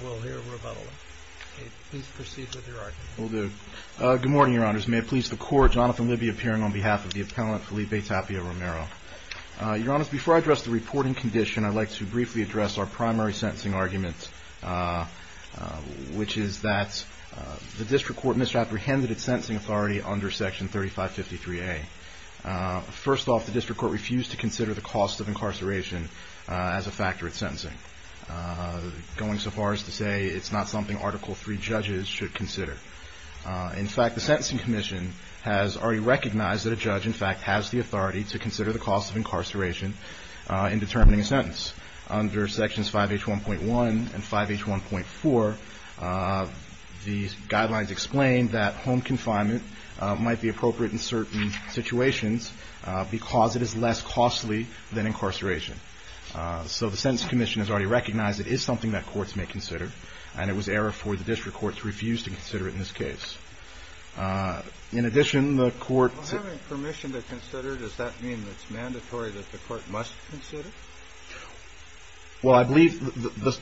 Good morning, Your Honors. May it please the Court, Jonathan Libby appearing on behalf of the Appellant Felipe Tapia-Romero. Your Honors, before I address the reporting condition, I'd like to briefly address our primary sentencing argument, which is that the District Court misapprehended its sentencing authority under Section 3553A. First off, the District Court refused to consider the cost of incarceration as a factor in sentencing, going so far as to say it's not something Article III judges should consider. In fact, the Sentencing Commission has already recognized that a judge, in fact, has the authority to consider the cost of incarceration in determining a sentence. Under Sections 5H1.1 and 5H1.4, these guidelines explain that home confinement might be appropriate in certain situations because it is less costly than incarceration. So the Sentencing Commission has already recognized it is something that courts may consider, and it was error for the District Court to refuse to consider it in this case. In addition, the Court – Having permission to consider, does that mean it's mandatory that the Court must consider? Well, I believe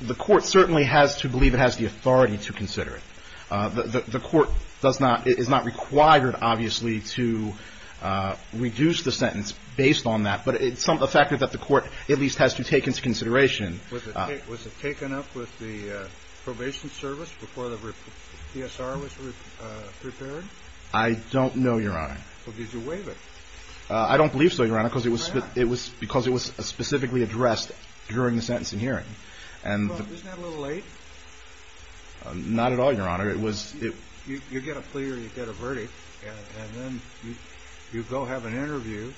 the Court certainly has to believe it has the authority to consider it. The Court does not – is not required, obviously, to reduce the sentence based on that, but it's a factor that the Court at least has to take into consideration. Was it taken up with the probation service before the PSR was prepared? I don't know, Your Honor. Well, did you waive it? I don't believe so, Your Honor, because it was specifically addressed during the sentencing hearing. Well, isn't that a little late? Not at all, Your Honor. It was – You get a plea or you get a verdict, and then you go have an interview,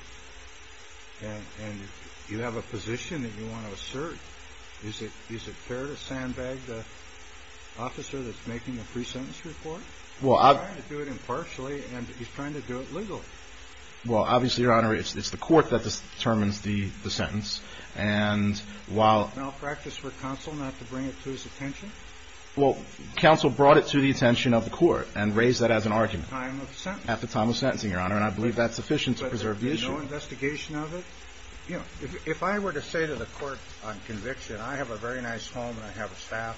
and you have a position that you want to assert. Is it fair to sandbag the officer that's making the pre-sentence report? Well, I – He's trying to do it impartially, and he's trying to do it legally. Well, obviously, Your Honor, it's the court that determines the sentence, and while – Malpractice for counsel not to bring it to his attention? Well, counsel brought it to the attention of the court and raised that as an argument. At the time of sentencing? At the time of sentencing, Your Honor, and I believe that's sufficient to preserve the issue. But there'd be no investigation of it? You know, if I were to say to the court on conviction, I have a very nice home, and I have a staff,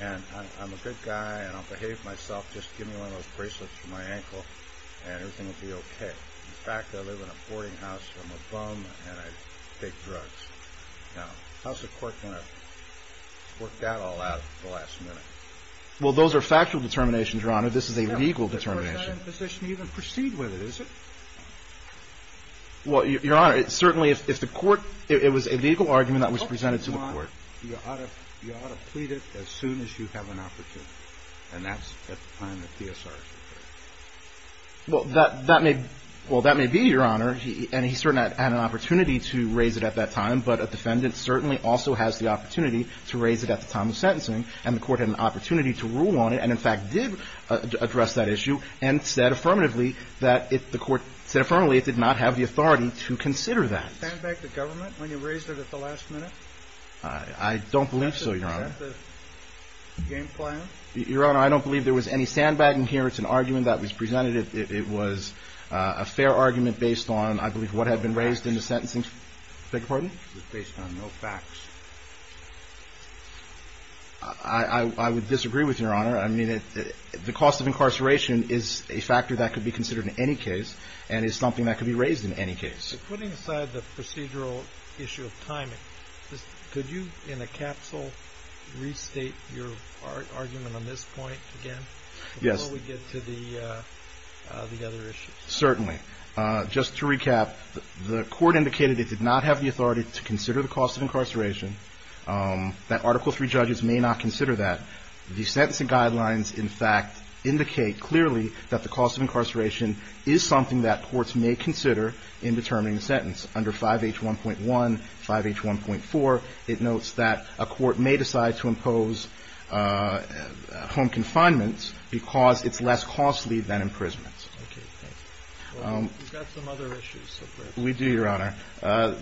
and I'm a good guy, and I'll behave myself. Just give me one of those bracelets for my ankle, and everything will be okay. In fact, I live in a boarding house, so I'm a bum, and I take drugs. Now, how's the court going to work that all out at the last minute? Well, those are factual determinations, Your Honor. This is a legal determination. Yeah, but of course, they're not in a position to even proceed with it, is it? Well, Your Honor, it certainly – if the court – it was a legal argument that was presented to the court. The court would want – you ought to plead it as soon as you have an opportunity, and that's at the time that Theosaris was there. Well, that may – well, that may be, Your Honor, and he certainly had an opportunity to raise it at that time, but a defendant certainly also has the opportunity to raise it at the time of sentencing, and the court had an opportunity to rule on it, and in fact did address that issue, and said affirmatively that it – the court said affirmatively it did not have the authority to consider that. Did you stand back the government when you raised it at the last minute? I don't believe so, Your Honor. Is that the game plan? Your Honor, I don't believe there was any sandbagging here. It's an argument that was presented. It was a fair argument based on, I believe, what had been raised in the sentencing – beg your pardon? It was based on no facts. I would disagree with you, Your Honor. I mean, the cost of incarceration is a factor that could be considered in any case and is something that could be raised in any case. So putting aside the procedural issue of timing, could you in a capsule restate your argument on this point again? Yes. Before we get to the other issues. Certainly. Just to recap, the court indicated it did not have the authority to consider the cost of incarceration, that Article III judges may not consider that. But the fact is that the cost of incarceration is something that courts may consider in determining the sentence. Under 5H1.1, 5H1.4, it notes that a court may decide to impose home confinement because it's less costly than imprisonment. Okay. Thanks. Well, we've got some other issues. We do, Your Honor.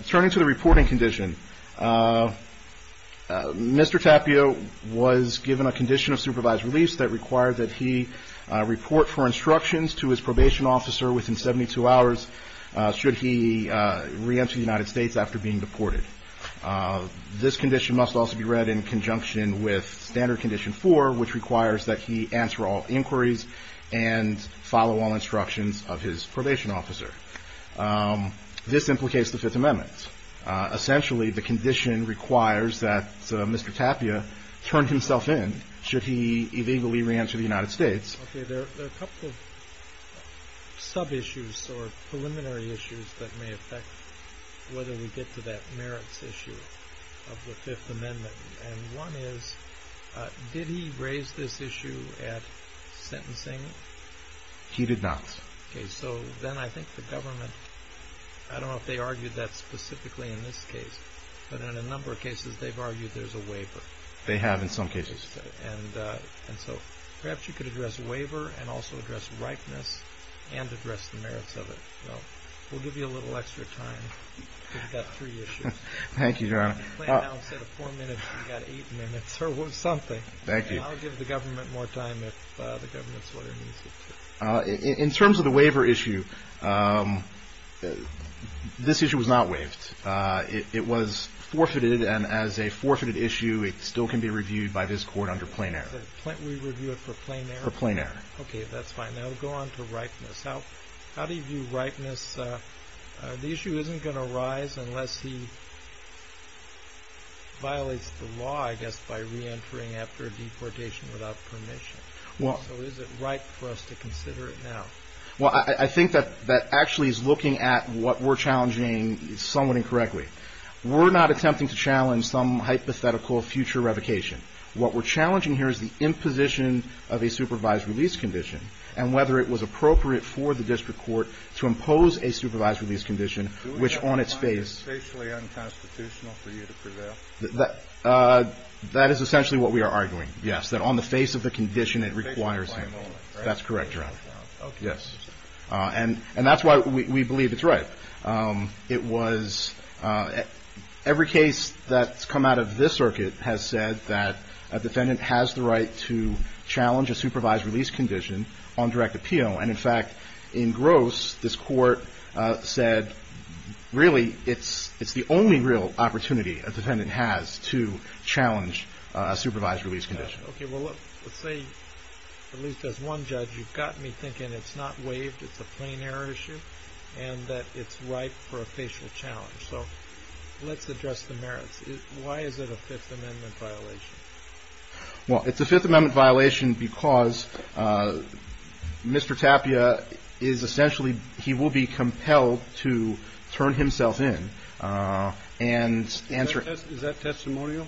Turning to the reporting condition, Mr. Tapio was given a condition of supervised release that required that he report for instructions to his probation officer within 72 hours should he reenter the United States after being deported. This condition must also be read in conjunction with Standard Condition 4, which requires that he answer all inquiries and follow all instructions of his probation officer. This implicates the Fifth Amendment. Essentially, the condition requires that Mr. Tapio turn himself in should he illegally reenter the United States. Okay. There are a couple of sub-issues or preliminary issues that may affect whether we get to that merits issue of the Fifth Amendment. And one is, did he raise this issue at sentencing? He did not. Okay. So then I think the government, I don't know if they argued that specifically in this case, but in a number of cases they've argued there's a waiver. They have in some cases. And so perhaps you could address the waiver and also address ripeness and address the merits of it. We'll give you a little extra time. We've got three issues. Thank you, Your Honor. I'm playing now instead of four minutes, we've got eight minutes or something. Thank you. I'll give the government more time if the government's what it needs. In terms of the waiver issue, this issue was not waived. It was forfeited. And as a forfeited issue, it still can be reviewed by this court under plain error. We review it for plain error? For plain error. Okay, that's fine. Now we'll go on to ripeness. How do you view ripeness? The issue isn't going to rise unless he violates the law, I guess, by reentering after a deportation without permission. So is it right for us to consider it now? Well, I think that actually is looking at what we're challenging somewhat incorrectly. We're not attempting to challenge some hypothetical future revocation. What we're challenging here is the imposition of a supervised release condition and whether it was appropriate for the district court to impose a supervised release condition, which on its face. Do we have one that's facially unconstitutional for you to prevail? That is essentially what we are arguing, yes, that on the face of the condition it requires him. That's correct, Your Honor. Yes. And that's why we believe it's right. It was every case that's come out of this circuit has said that a defendant has the right to challenge a supervised release condition on direct appeal. And, in fact, in Gross, this court said, really, it's the only real opportunity a defendant has to challenge a supervised release condition. Okay. Well, look, let's say at least as one judge you've got me thinking it's not waived, it's a plain error issue, and that it's ripe for a facial challenge. So let's address the merits. Why is it a Fifth Amendment violation? Well, it's a Fifth Amendment violation because Mr. Tapia is essentially he will be compelled to turn himself in and answer. Is that testimonial?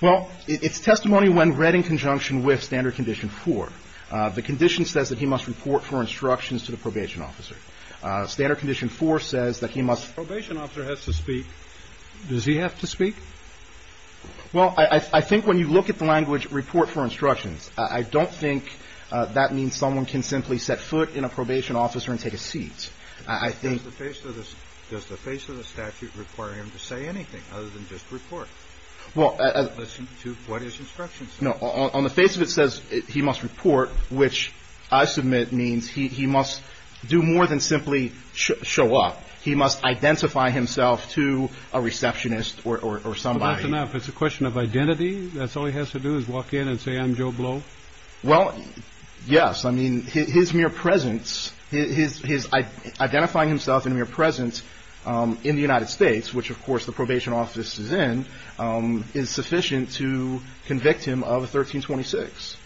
Well, it's testimony when read in conjunction with Standard Condition 4. The condition says that he must report for instructions to the probation officer. Standard Condition 4 says that he must. The probation officer has to speak. Does he have to speak? Well, I think when you look at the language report for instructions, I don't think that means someone can simply set foot in a probation officer and take a seat. I think. Does the face of the statute require him to say anything other than just report? Well. Listen to what his instructions say. No. On the face of it says he must report, which I submit means he must do more than simply show up. He must identify himself to a receptionist or somebody. Well, that's enough. It's a question of identity? That's all he has to do is walk in and say I'm Joe Blow? Well, yes. I mean, his mere presence, his identifying himself in mere presence in the United States, which of course the probation office is in, is sufficient to convict him of 1326,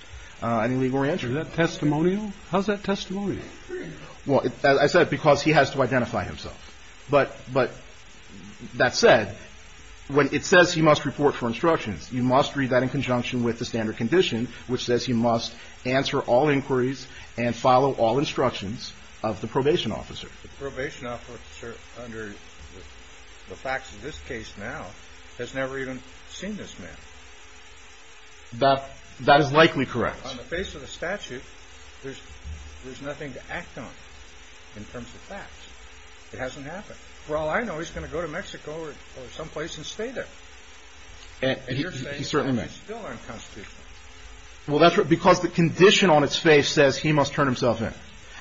an illegal re-entry. Is that testimonial? How's that testimonial? Well, as I said, because he has to identify himself. But that said, when it says he must report for instructions, you must read that in conjunction with the standard condition, which says he must answer all inquiries and follow all instructions of the probation officer. But the probation officer, under the facts of this case now, has never even seen this man. That is likely correct. On the face of the statute, there's nothing to act on in terms of facts. It hasn't happened. For all I know, he's going to go to Mexico or someplace and stay there. And you're saying that's still unconstitutional. Well, that's because the condition on its face says he must turn himself in.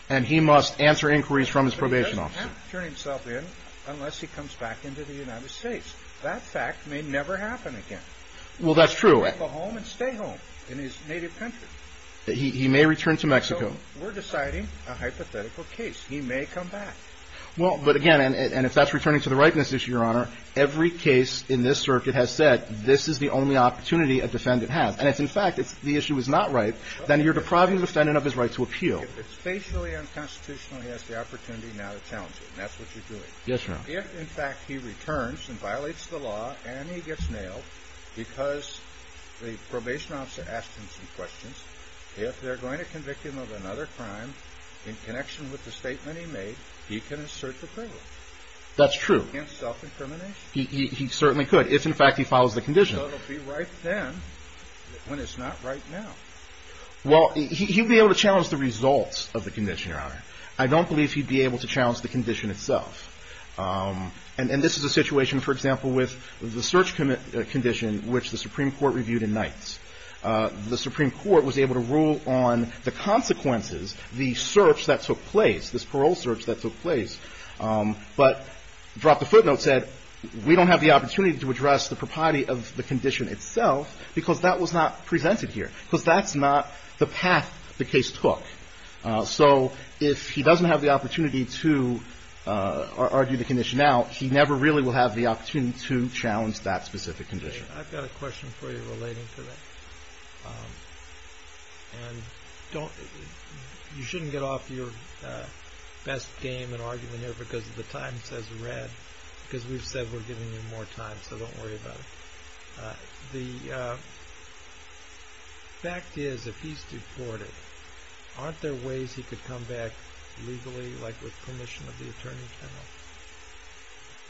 And he must answer inquiries from his probation officer. But he doesn't have to turn himself in unless he comes back into the United States. That fact may never happen again. Well, that's true. He can go home and stay home in his native country. He may return to Mexico. So we're deciding a hypothetical case. He may come back. Well, but again, and if that's returning to the ripeness issue, Your Honor, every case in this circuit has said this is the only opportunity a defendant has. And if, in fact, the issue is not right, then you're depriving the defendant of his right to appeal. If it's facially unconstitutional, he has the opportunity now to challenge it. And that's what you're doing. Yes, Your Honor. If, in fact, he returns and violates the law and he gets nailed because the probation officer asked him some questions, if they're going to convict him of another crime in connection with the statement he made, he can assert the privilege. That's true. He can't self-incriminate? He certainly could if, in fact, he follows the condition. So it will be right then when it's not right now. Well, he'd be able to challenge the results of the condition, Your Honor. I don't believe he'd be able to challenge the condition itself. And this is a situation, for example, with the search condition, which the Supreme Court reviewed in Nights. The Supreme Court was able to rule on the consequences, the search that took place, this parole search that took place, but dropped the footnote, said we don't have the opportunity to address the propriety of the condition itself because that was not presented here, because that's not the path the case took. So if he doesn't have the opportunity to argue the condition out, he never really will have the opportunity to challenge that specific condition. I've got a question for you relating to that. And you shouldn't get off your best game in arguing here because the time says red, because we've said we're giving you more time, so don't worry about it. The fact is, if he's deported, aren't there ways he could come back legally, like with permission of the Attorney General?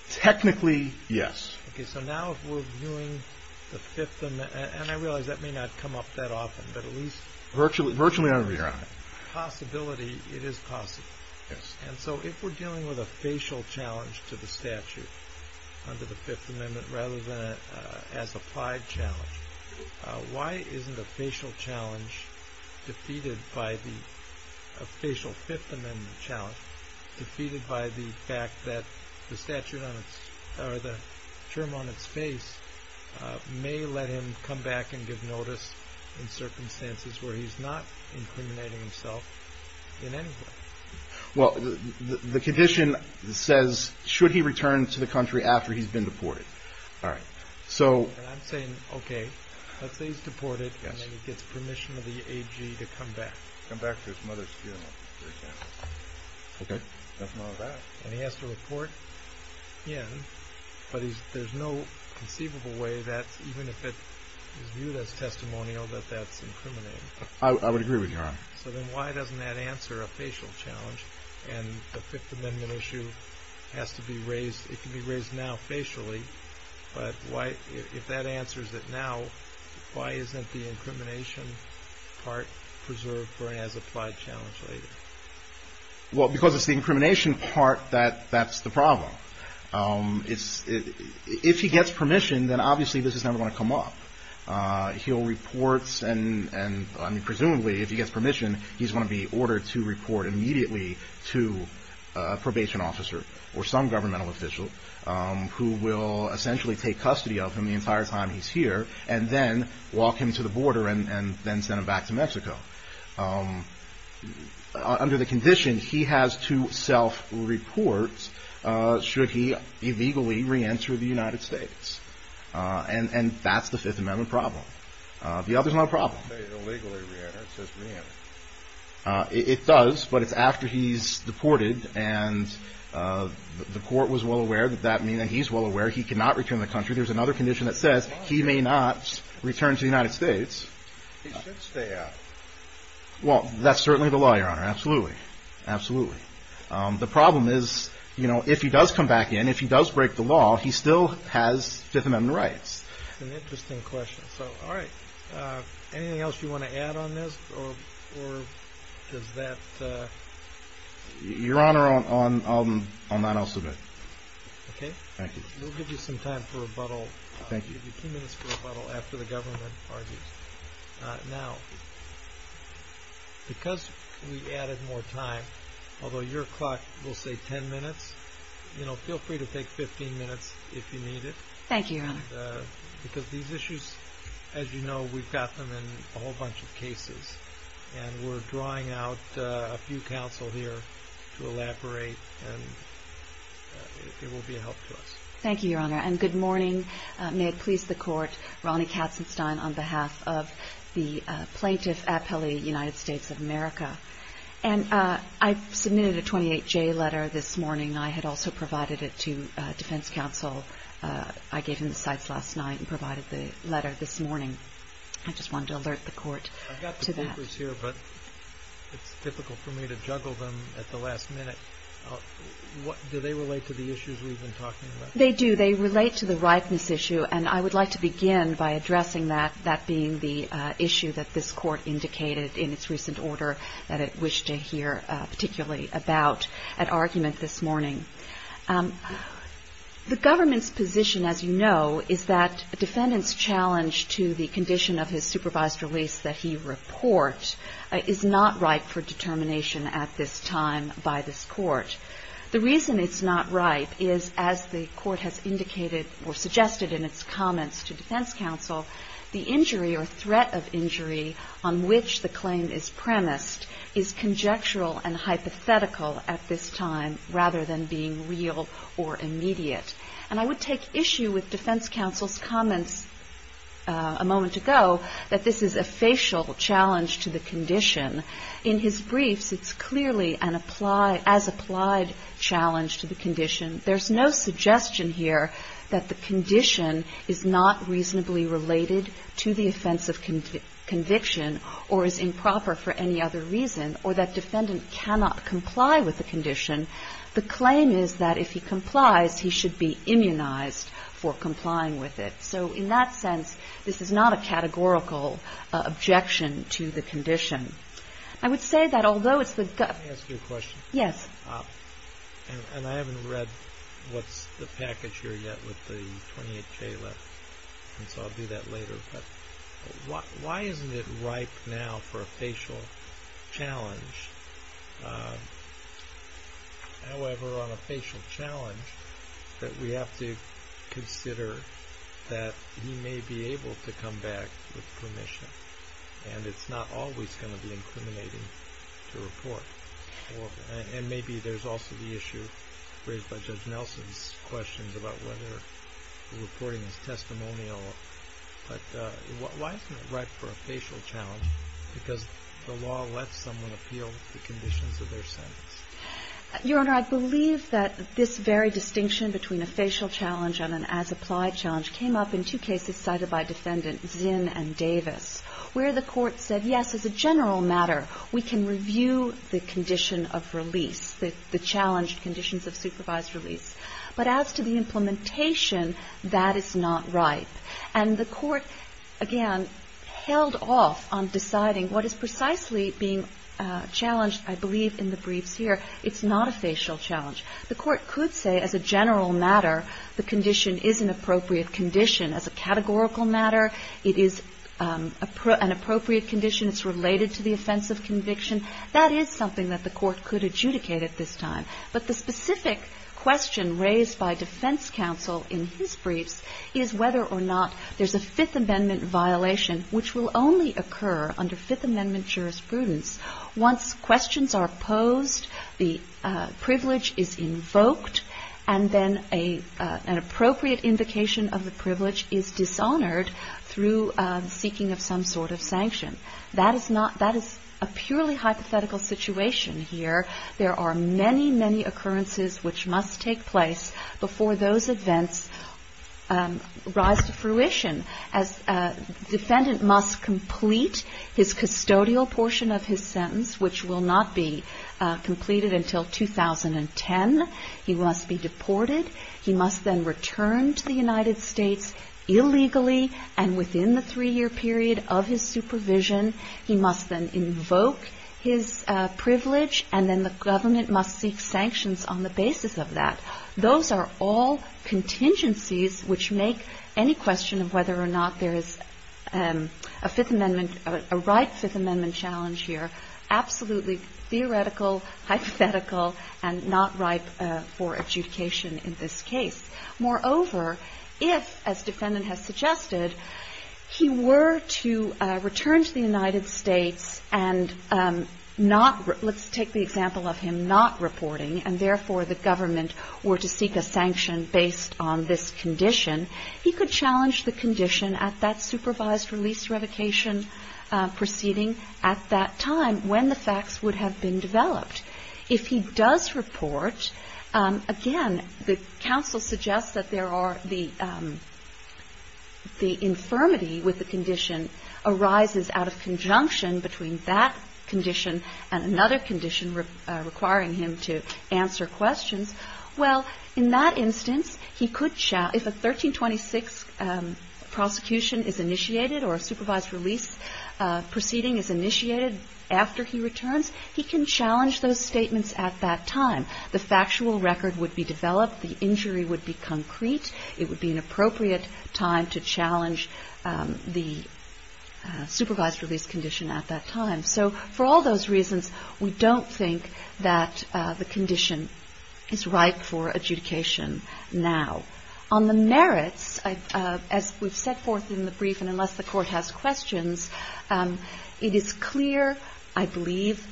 Technically, yes. Okay, so now if we're viewing the Fifth Amendment, and I realize that may not come up that often, but at least- Virtually, virtually every year. Possibility, it is possible. Yes. And so if we're dealing with a facial challenge to the statute under the Fifth Amendment rather than as applied challenge, why isn't a facial challenge defeated by the, a facial Fifth Amendment challenge, defeated by the fact that the statute on its, or the term on its face, may let him come back and give notice in circumstances where he's not incriminating himself in any way? Well, the condition says, should he return to the country after he's been deported? All right. So- And I'm saying, okay, let's say he's deported, and then he gets permission of the AG to come back. Come back to his mother's funeral. Okay. And he has to report in, but there's no conceivable way that, even if it is viewed as testimonial, that that's incriminating. I would agree with you, Your Honor. So then why doesn't that answer a facial challenge, and the Fifth Amendment issue has to be raised, it can be raised now facially, but why, if that answers it now, why isn't the incrimination part preserved for an as-applied challenge later? Well, because it's the incrimination part that's the problem. If he gets permission, then obviously this is never going to come up. He'll report, and presumably, if he gets permission, he's going to be ordered to report immediately to a probation officer or some governmental official who will essentially take custody of him the entire time he's here, and then walk him to the border and then send him back to Mexico. Under the condition, he has to self-report should he illegally reenter the United States, and that's the Fifth Amendment problem. The other's not a problem. He doesn't say illegally reenter, it says reenter. It does, but it's after he's deported, and the court was well aware that that means that he's well aware he cannot return to the country. There's another condition that says he may not return to the United States. He should stay out. Well, that's certainly the law, Your Honor, absolutely, absolutely. The problem is, you know, if he does come back in, if he does break the law, he still has Fifth Amendment rights. That's an interesting question. So, all right. Anything else you want to add on this, or does that? Your Honor, I'll not else submit. Okay. Thank you. We'll give you some time for rebuttal. Thank you. We'll give you two minutes for rebuttal after the government argues. Now, because we added more time, although your clock will say 10 minutes, you know, feel free to take 15 minutes if you need it. Thank you, Your Honor. Because these issues, as you know, we've got them in a whole bunch of cases, and we're drawing out a few counsel here to elaborate, and it will be a help to us. Thank you, Your Honor. And good morning. May it please the Court. Ronnie Katzenstein on behalf of the plaintiff appellee, United States of America. And I submitted a 28-J letter this morning. I had also provided it to defense counsel. I gave him the cites last night and provided the letter this morning. I just wanted to alert the Court to that. I've got the papers here, but it's difficult for me to juggle them at the last minute. Do they relate to the issues we've been talking about? They do. They relate to the rightness issue. And I would like to begin by addressing that, that being the issue that this Court indicated in its recent order that it wished to hear, particularly, about at argument this morning. The government's position, as you know, is that a defendant's challenge to the condition of his supervised release that he report is not ripe for determination at this time by this Court. The reason it's not ripe is, as the Court has indicated or suggested in its comments to defense counsel, the injury or threat of injury on which the claim is premised is conjectural and hypothetical at this time rather than being real or immediate. And I would take issue with defense counsel's comments a moment ago that this is a facial challenge to the condition. In his briefs, it's clearly an as-applied challenge to the condition. There's no suggestion here that the condition is not reasonably related to the offense of conviction or is improper for any other reason, or that defendant cannot comply with the condition. The claim is that if he complies, he should be immunized for complying with it. So in that sense, this is not a categorical objection to the condition. I would say that although it's the gu- Let me ask you a question. Yes. And I haven't read what's the package here yet with the 28-K left, and so I'll do that later. But why isn't it ripe now for a facial challenge? However, on a facial challenge, that we have to consider that he may be able to come back with permission, and it's not always going to be incriminating to report. And maybe there's also the issue raised by Judge Nelson's questions about whether the reporting is testimonial. But why isn't it ripe for a facial challenge? Because the law lets someone appeal the conditions of their sentence. Your Honor, I believe that this very distinction between a facial challenge and an as-applied challenge came up in two cases cited by Defendant Zinn and Davis, where the Court said, yes, as a general matter, we can review the condition of release, the challenged conditions of supervised release. But as to the implementation, that is not ripe. And the Court, again, held off on deciding what is precisely being challenged, I believe, in the briefs here. It's not a facial challenge. The Court could say, as a general matter, the condition is an appropriate condition. As a categorical matter, it is an appropriate condition. It's related to the offense of conviction. That is something that the Court could adjudicate at this time. But the specific question raised by defense counsel in his briefs is whether or not there's a Fifth Amendment violation, which will only occur under Fifth Amendment jurisprudence once questions are posed, the privilege is invoked, and then an appropriate invocation of the privilege is dishonored through seeking of some sort of sanction. That is a purely hypothetical situation here. There are many, many occurrences which must take place before those events rise to fruition. A defendant must complete his custodial portion of his sentence, which will not be completed until 2010. He must be deported. He must then return to the United States illegally and within the three-year period of his supervision. He must then invoke his privilege, and then the government must seek sanctions on the basis of that. Those are all contingencies which make any question of whether or not there is a Fifth Amendment, a right Fifth Amendment challenge here absolutely theoretical, hypothetical, and not ripe for adjudication in this case. Moreover, if, as defendant has suggested, he were to return to the United States and not — let's take the example of him not reporting, and therefore the government were to seek a sanction based on this condition, he could challenge the condition at that supervised release revocation proceeding at that time when the facts would have been developed. If he does report, again, the counsel suggests that there are — the infirmity with the condition arises out of conjunction between that condition and another condition requiring him to answer questions. Well, in that instance, he could — if a 1326 prosecution is initiated or a supervised release proceeding is initiated after he returns, he can challenge those statements at that time. The factual record would be developed. The injury would be concrete. It would be an appropriate time to challenge the supervised release condition at that time. So for all those reasons, we don't think that the condition is ripe for adjudication now. On the merits, as we've set forth in the brief, and unless the Court has questions, it is clear, I believe,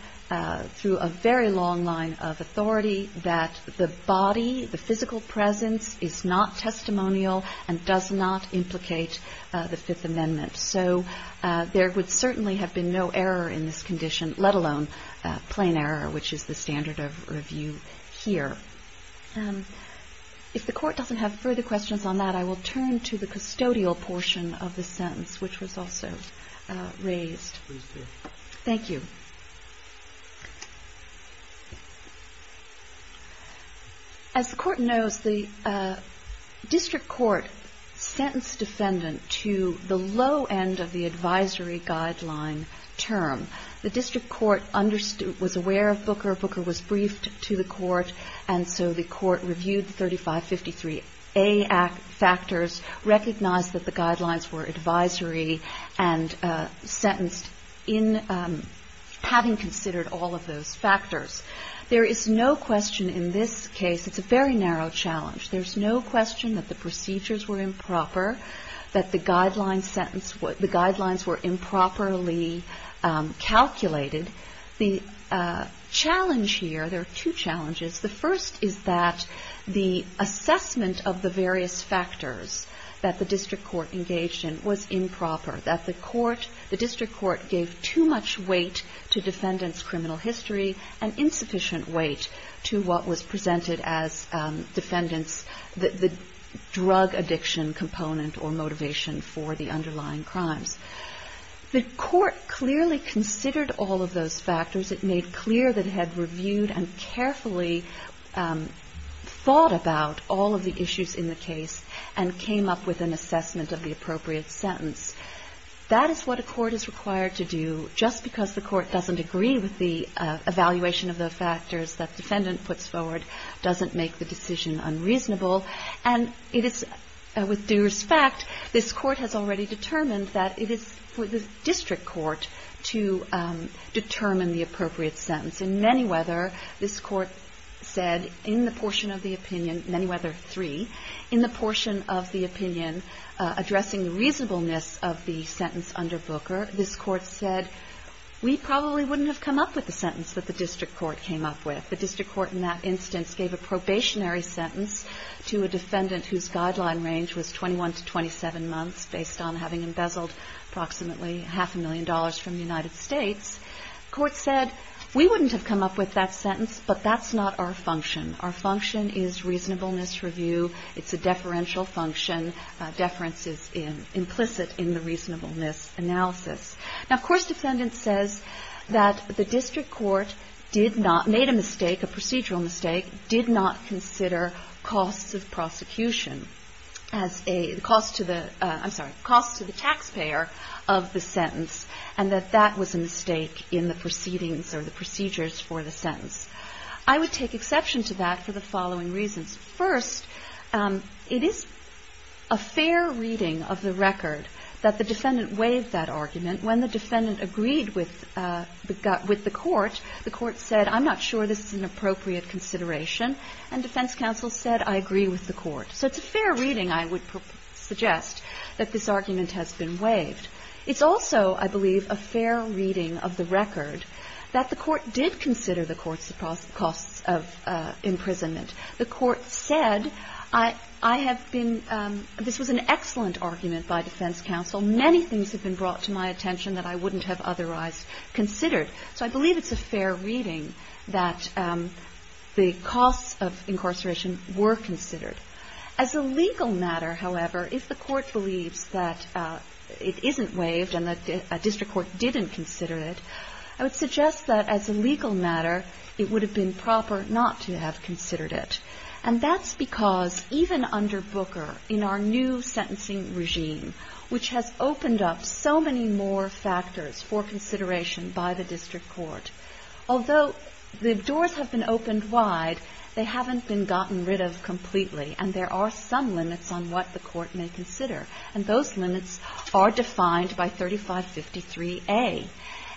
through a very long line of authority, that the body, the physical presence is not testimonial and does not implicate the Fifth Amendment. So there would certainly have been no error in this condition, let alone plain error, which is the standard of review here. If the Court doesn't have further questions on that, I will turn to the custodial portion of the sentence, which was also raised. Please do. Thank you. As the Court knows, the district court sentenced defendant to the low end of the advisory guideline term. The district court was aware of Booker. Booker was briefed to the Court. And so the Court reviewed 3553A factors, recognized that the guidelines were advisory and sentenced in having considered all of those factors. There is no question in this case, it's a very narrow challenge, there's no question that the procedures were improper, that the guidelines were improperly calculated. The challenge here, there are two challenges. The first is that the assessment of the various factors that the district court engaged in was improper, that the court, the district court gave too much weight to defendants' criminal history and insufficient weight to what was presented as defendants' drug addiction component or motivation for the underlying crimes. The Court clearly considered all of those factors. It made clear that it had reviewed and carefully thought about all of the issues in the case and came up with an assessment of the appropriate sentence. That is what a court is required to do, just because the court doesn't agree with the evaluation of the factors that defendant puts forward doesn't make the decision unreasonable. And it is, with due respect, this Court has already determined that it is for the district court to determine the appropriate sentence. In Manyweather, this Court said in the portion of the opinion, Manyweather 3, in the portion of the opinion addressing the reasonableness of the sentence under Booker, this Court said we probably wouldn't have come up with the sentence that the district court came up with. The district court in that instance gave a probationary sentence to a defendant whose guideline range was 21 to 27 months, based on having embezzled approximately half a million dollars from the United States. The Court said we wouldn't have come up with that sentence, but that's not our function. Our function is reasonableness review. It's a deferential function. Deference is implicit in the reasonableness analysis. Now, of course, defendant says that the district court did not, made a mistake, a procedural mistake, did not consider costs of prosecution as a, costs to the, I'm sorry, costs to the taxpayer of the sentence, and that that was a mistake in the proceedings or the procedures for the sentence. I would take exception to that for the following reasons. First, it is a fair reading of the record that the defendant waived that argument. When the defendant agreed with the court, the court said, I'm not sure this is an appropriate consideration, and defense counsel said, I agree with the court. So it's a fair reading, I would suggest, that this argument has been waived. It's also, I believe, a fair reading of the record that the court did consider the court's costs of imprisonment. The court said, I have been, this was an excellent argument by defense counsel. Many things have been brought to my attention that I wouldn't have otherwise considered. So I believe it's a fair reading that the costs of incarceration were considered. As a legal matter, however, if the court believes that it isn't waived and that a district court didn't consider it, I would suggest that as a legal matter, it would have been proper not to have considered it. And that's because even under Booker, in our new sentencing regime, which has opened up so many more factors for consideration by the district court, although the doors have been opened wide, they haven't been gotten rid of completely, and there are some limits on what the court may consider. And those limits are defined by 3553A.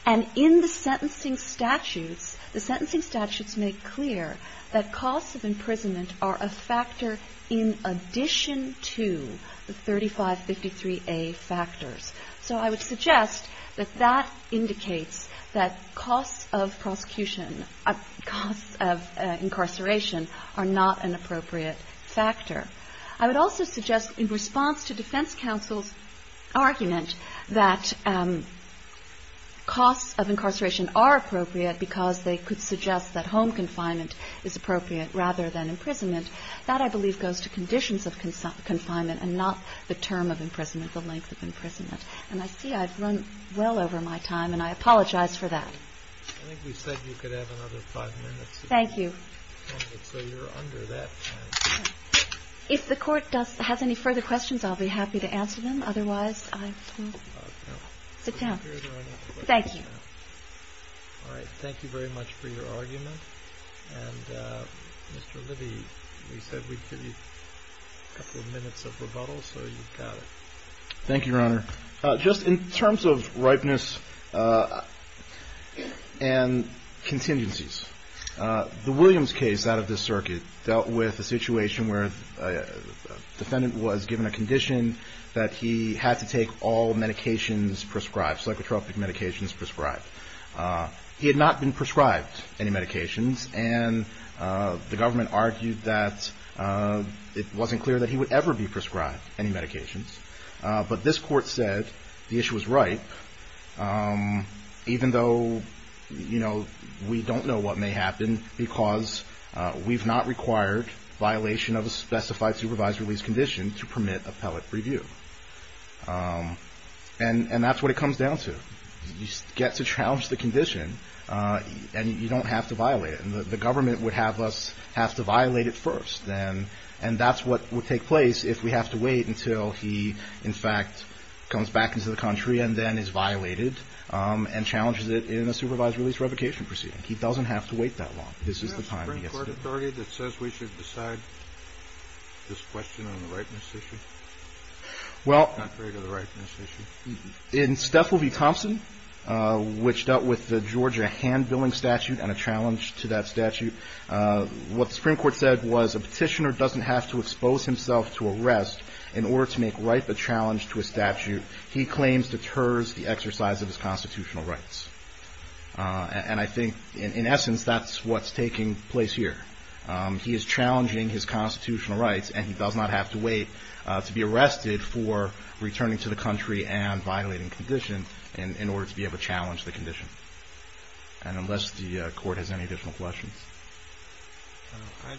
And in the sentencing statutes, the sentencing statutes make clear that costs of imprisonment are a factor in addition to the 3553A factors. So I would suggest that that indicates that costs of prosecution, costs of incarceration are not an appropriate factor. I would also suggest in response to defense counsel's argument that costs of incarceration are appropriate because they could suggest that home confinement is appropriate rather than imprisonment. That, I believe, goes to conditions of confinement and not the term of imprisonment, the length of imprisonment. And I see I've run well over my time, and I apologize for that. I think we said you could have another five minutes. Thank you. So you're under that time. If the Court has any further questions, I'll be happy to answer them. Otherwise, I will sit down. Thank you. All right. Thank you very much for your argument. And, Mr. Libby, we said we'd give you a couple of minutes of rebuttal, so you've got it. Thank you, Your Honor. Just in terms of ripeness and contingencies, the Williams case out of this circuit dealt with a situation where a defendant was given a condition that he had to take all medications prescribed, psychotropic medications prescribed. He had not been prescribed any medications, and the government argued that it wasn't clear that he would ever be prescribed any medications. But this Court said the issue was ripe, even though, you know, we don't know what may happen because we've not required violation of a specified supervised release condition to permit appellate review. And that's what it comes down to. You get to challenge the condition, and you don't have to violate it. And the government would have us have to violate it first, and that's what would take place if we have to wait until he, in fact, comes back into the country and then is violated and challenges it in a supervised release revocation proceeding. He doesn't have to wait that long. This is the time he gets to do it. Do we have a Supreme Court authority that says we should decide this question on the ripeness issue? Well, in Stethel v. Thompson, which dealt with the Georgia hand-billing statute and a challenge to that statute, what the Supreme Court said was a petitioner doesn't have to expose himself to arrest in order to make ripe a challenge to a statute. He claims deters the exercise of his constitutional rights. And I think, in essence, that's what's taking place here. He is challenging his constitutional rights, and he does not have to wait to be arrested for returning to the country and violating condition in order to be able to challenge the condition. And unless the Court has any additional questions. It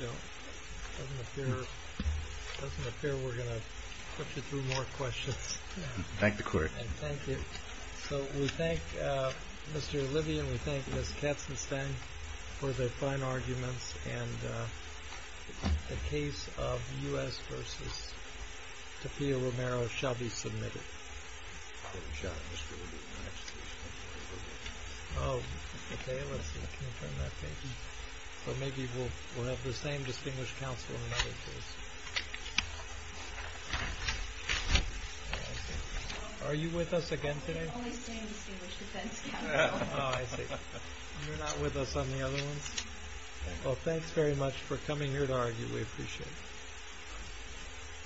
doesn't appear we're going to put you through more questions. Thank the Court. Thank you. So we thank Mr. Livian. We thank Ms. Katzenstein for the fine arguments. And the case of U.S. v. Tapia Romero shall be submitted. Good shot. Oh, Tapia, let's see. Can you turn that page? So maybe we'll have the same distinguished counsel in another case. Are you with us again today? Only the same distinguished defense counsel. Oh, I see. You're not with us on the other ones? Well, thanks very much for coming here to argue. We appreciate it.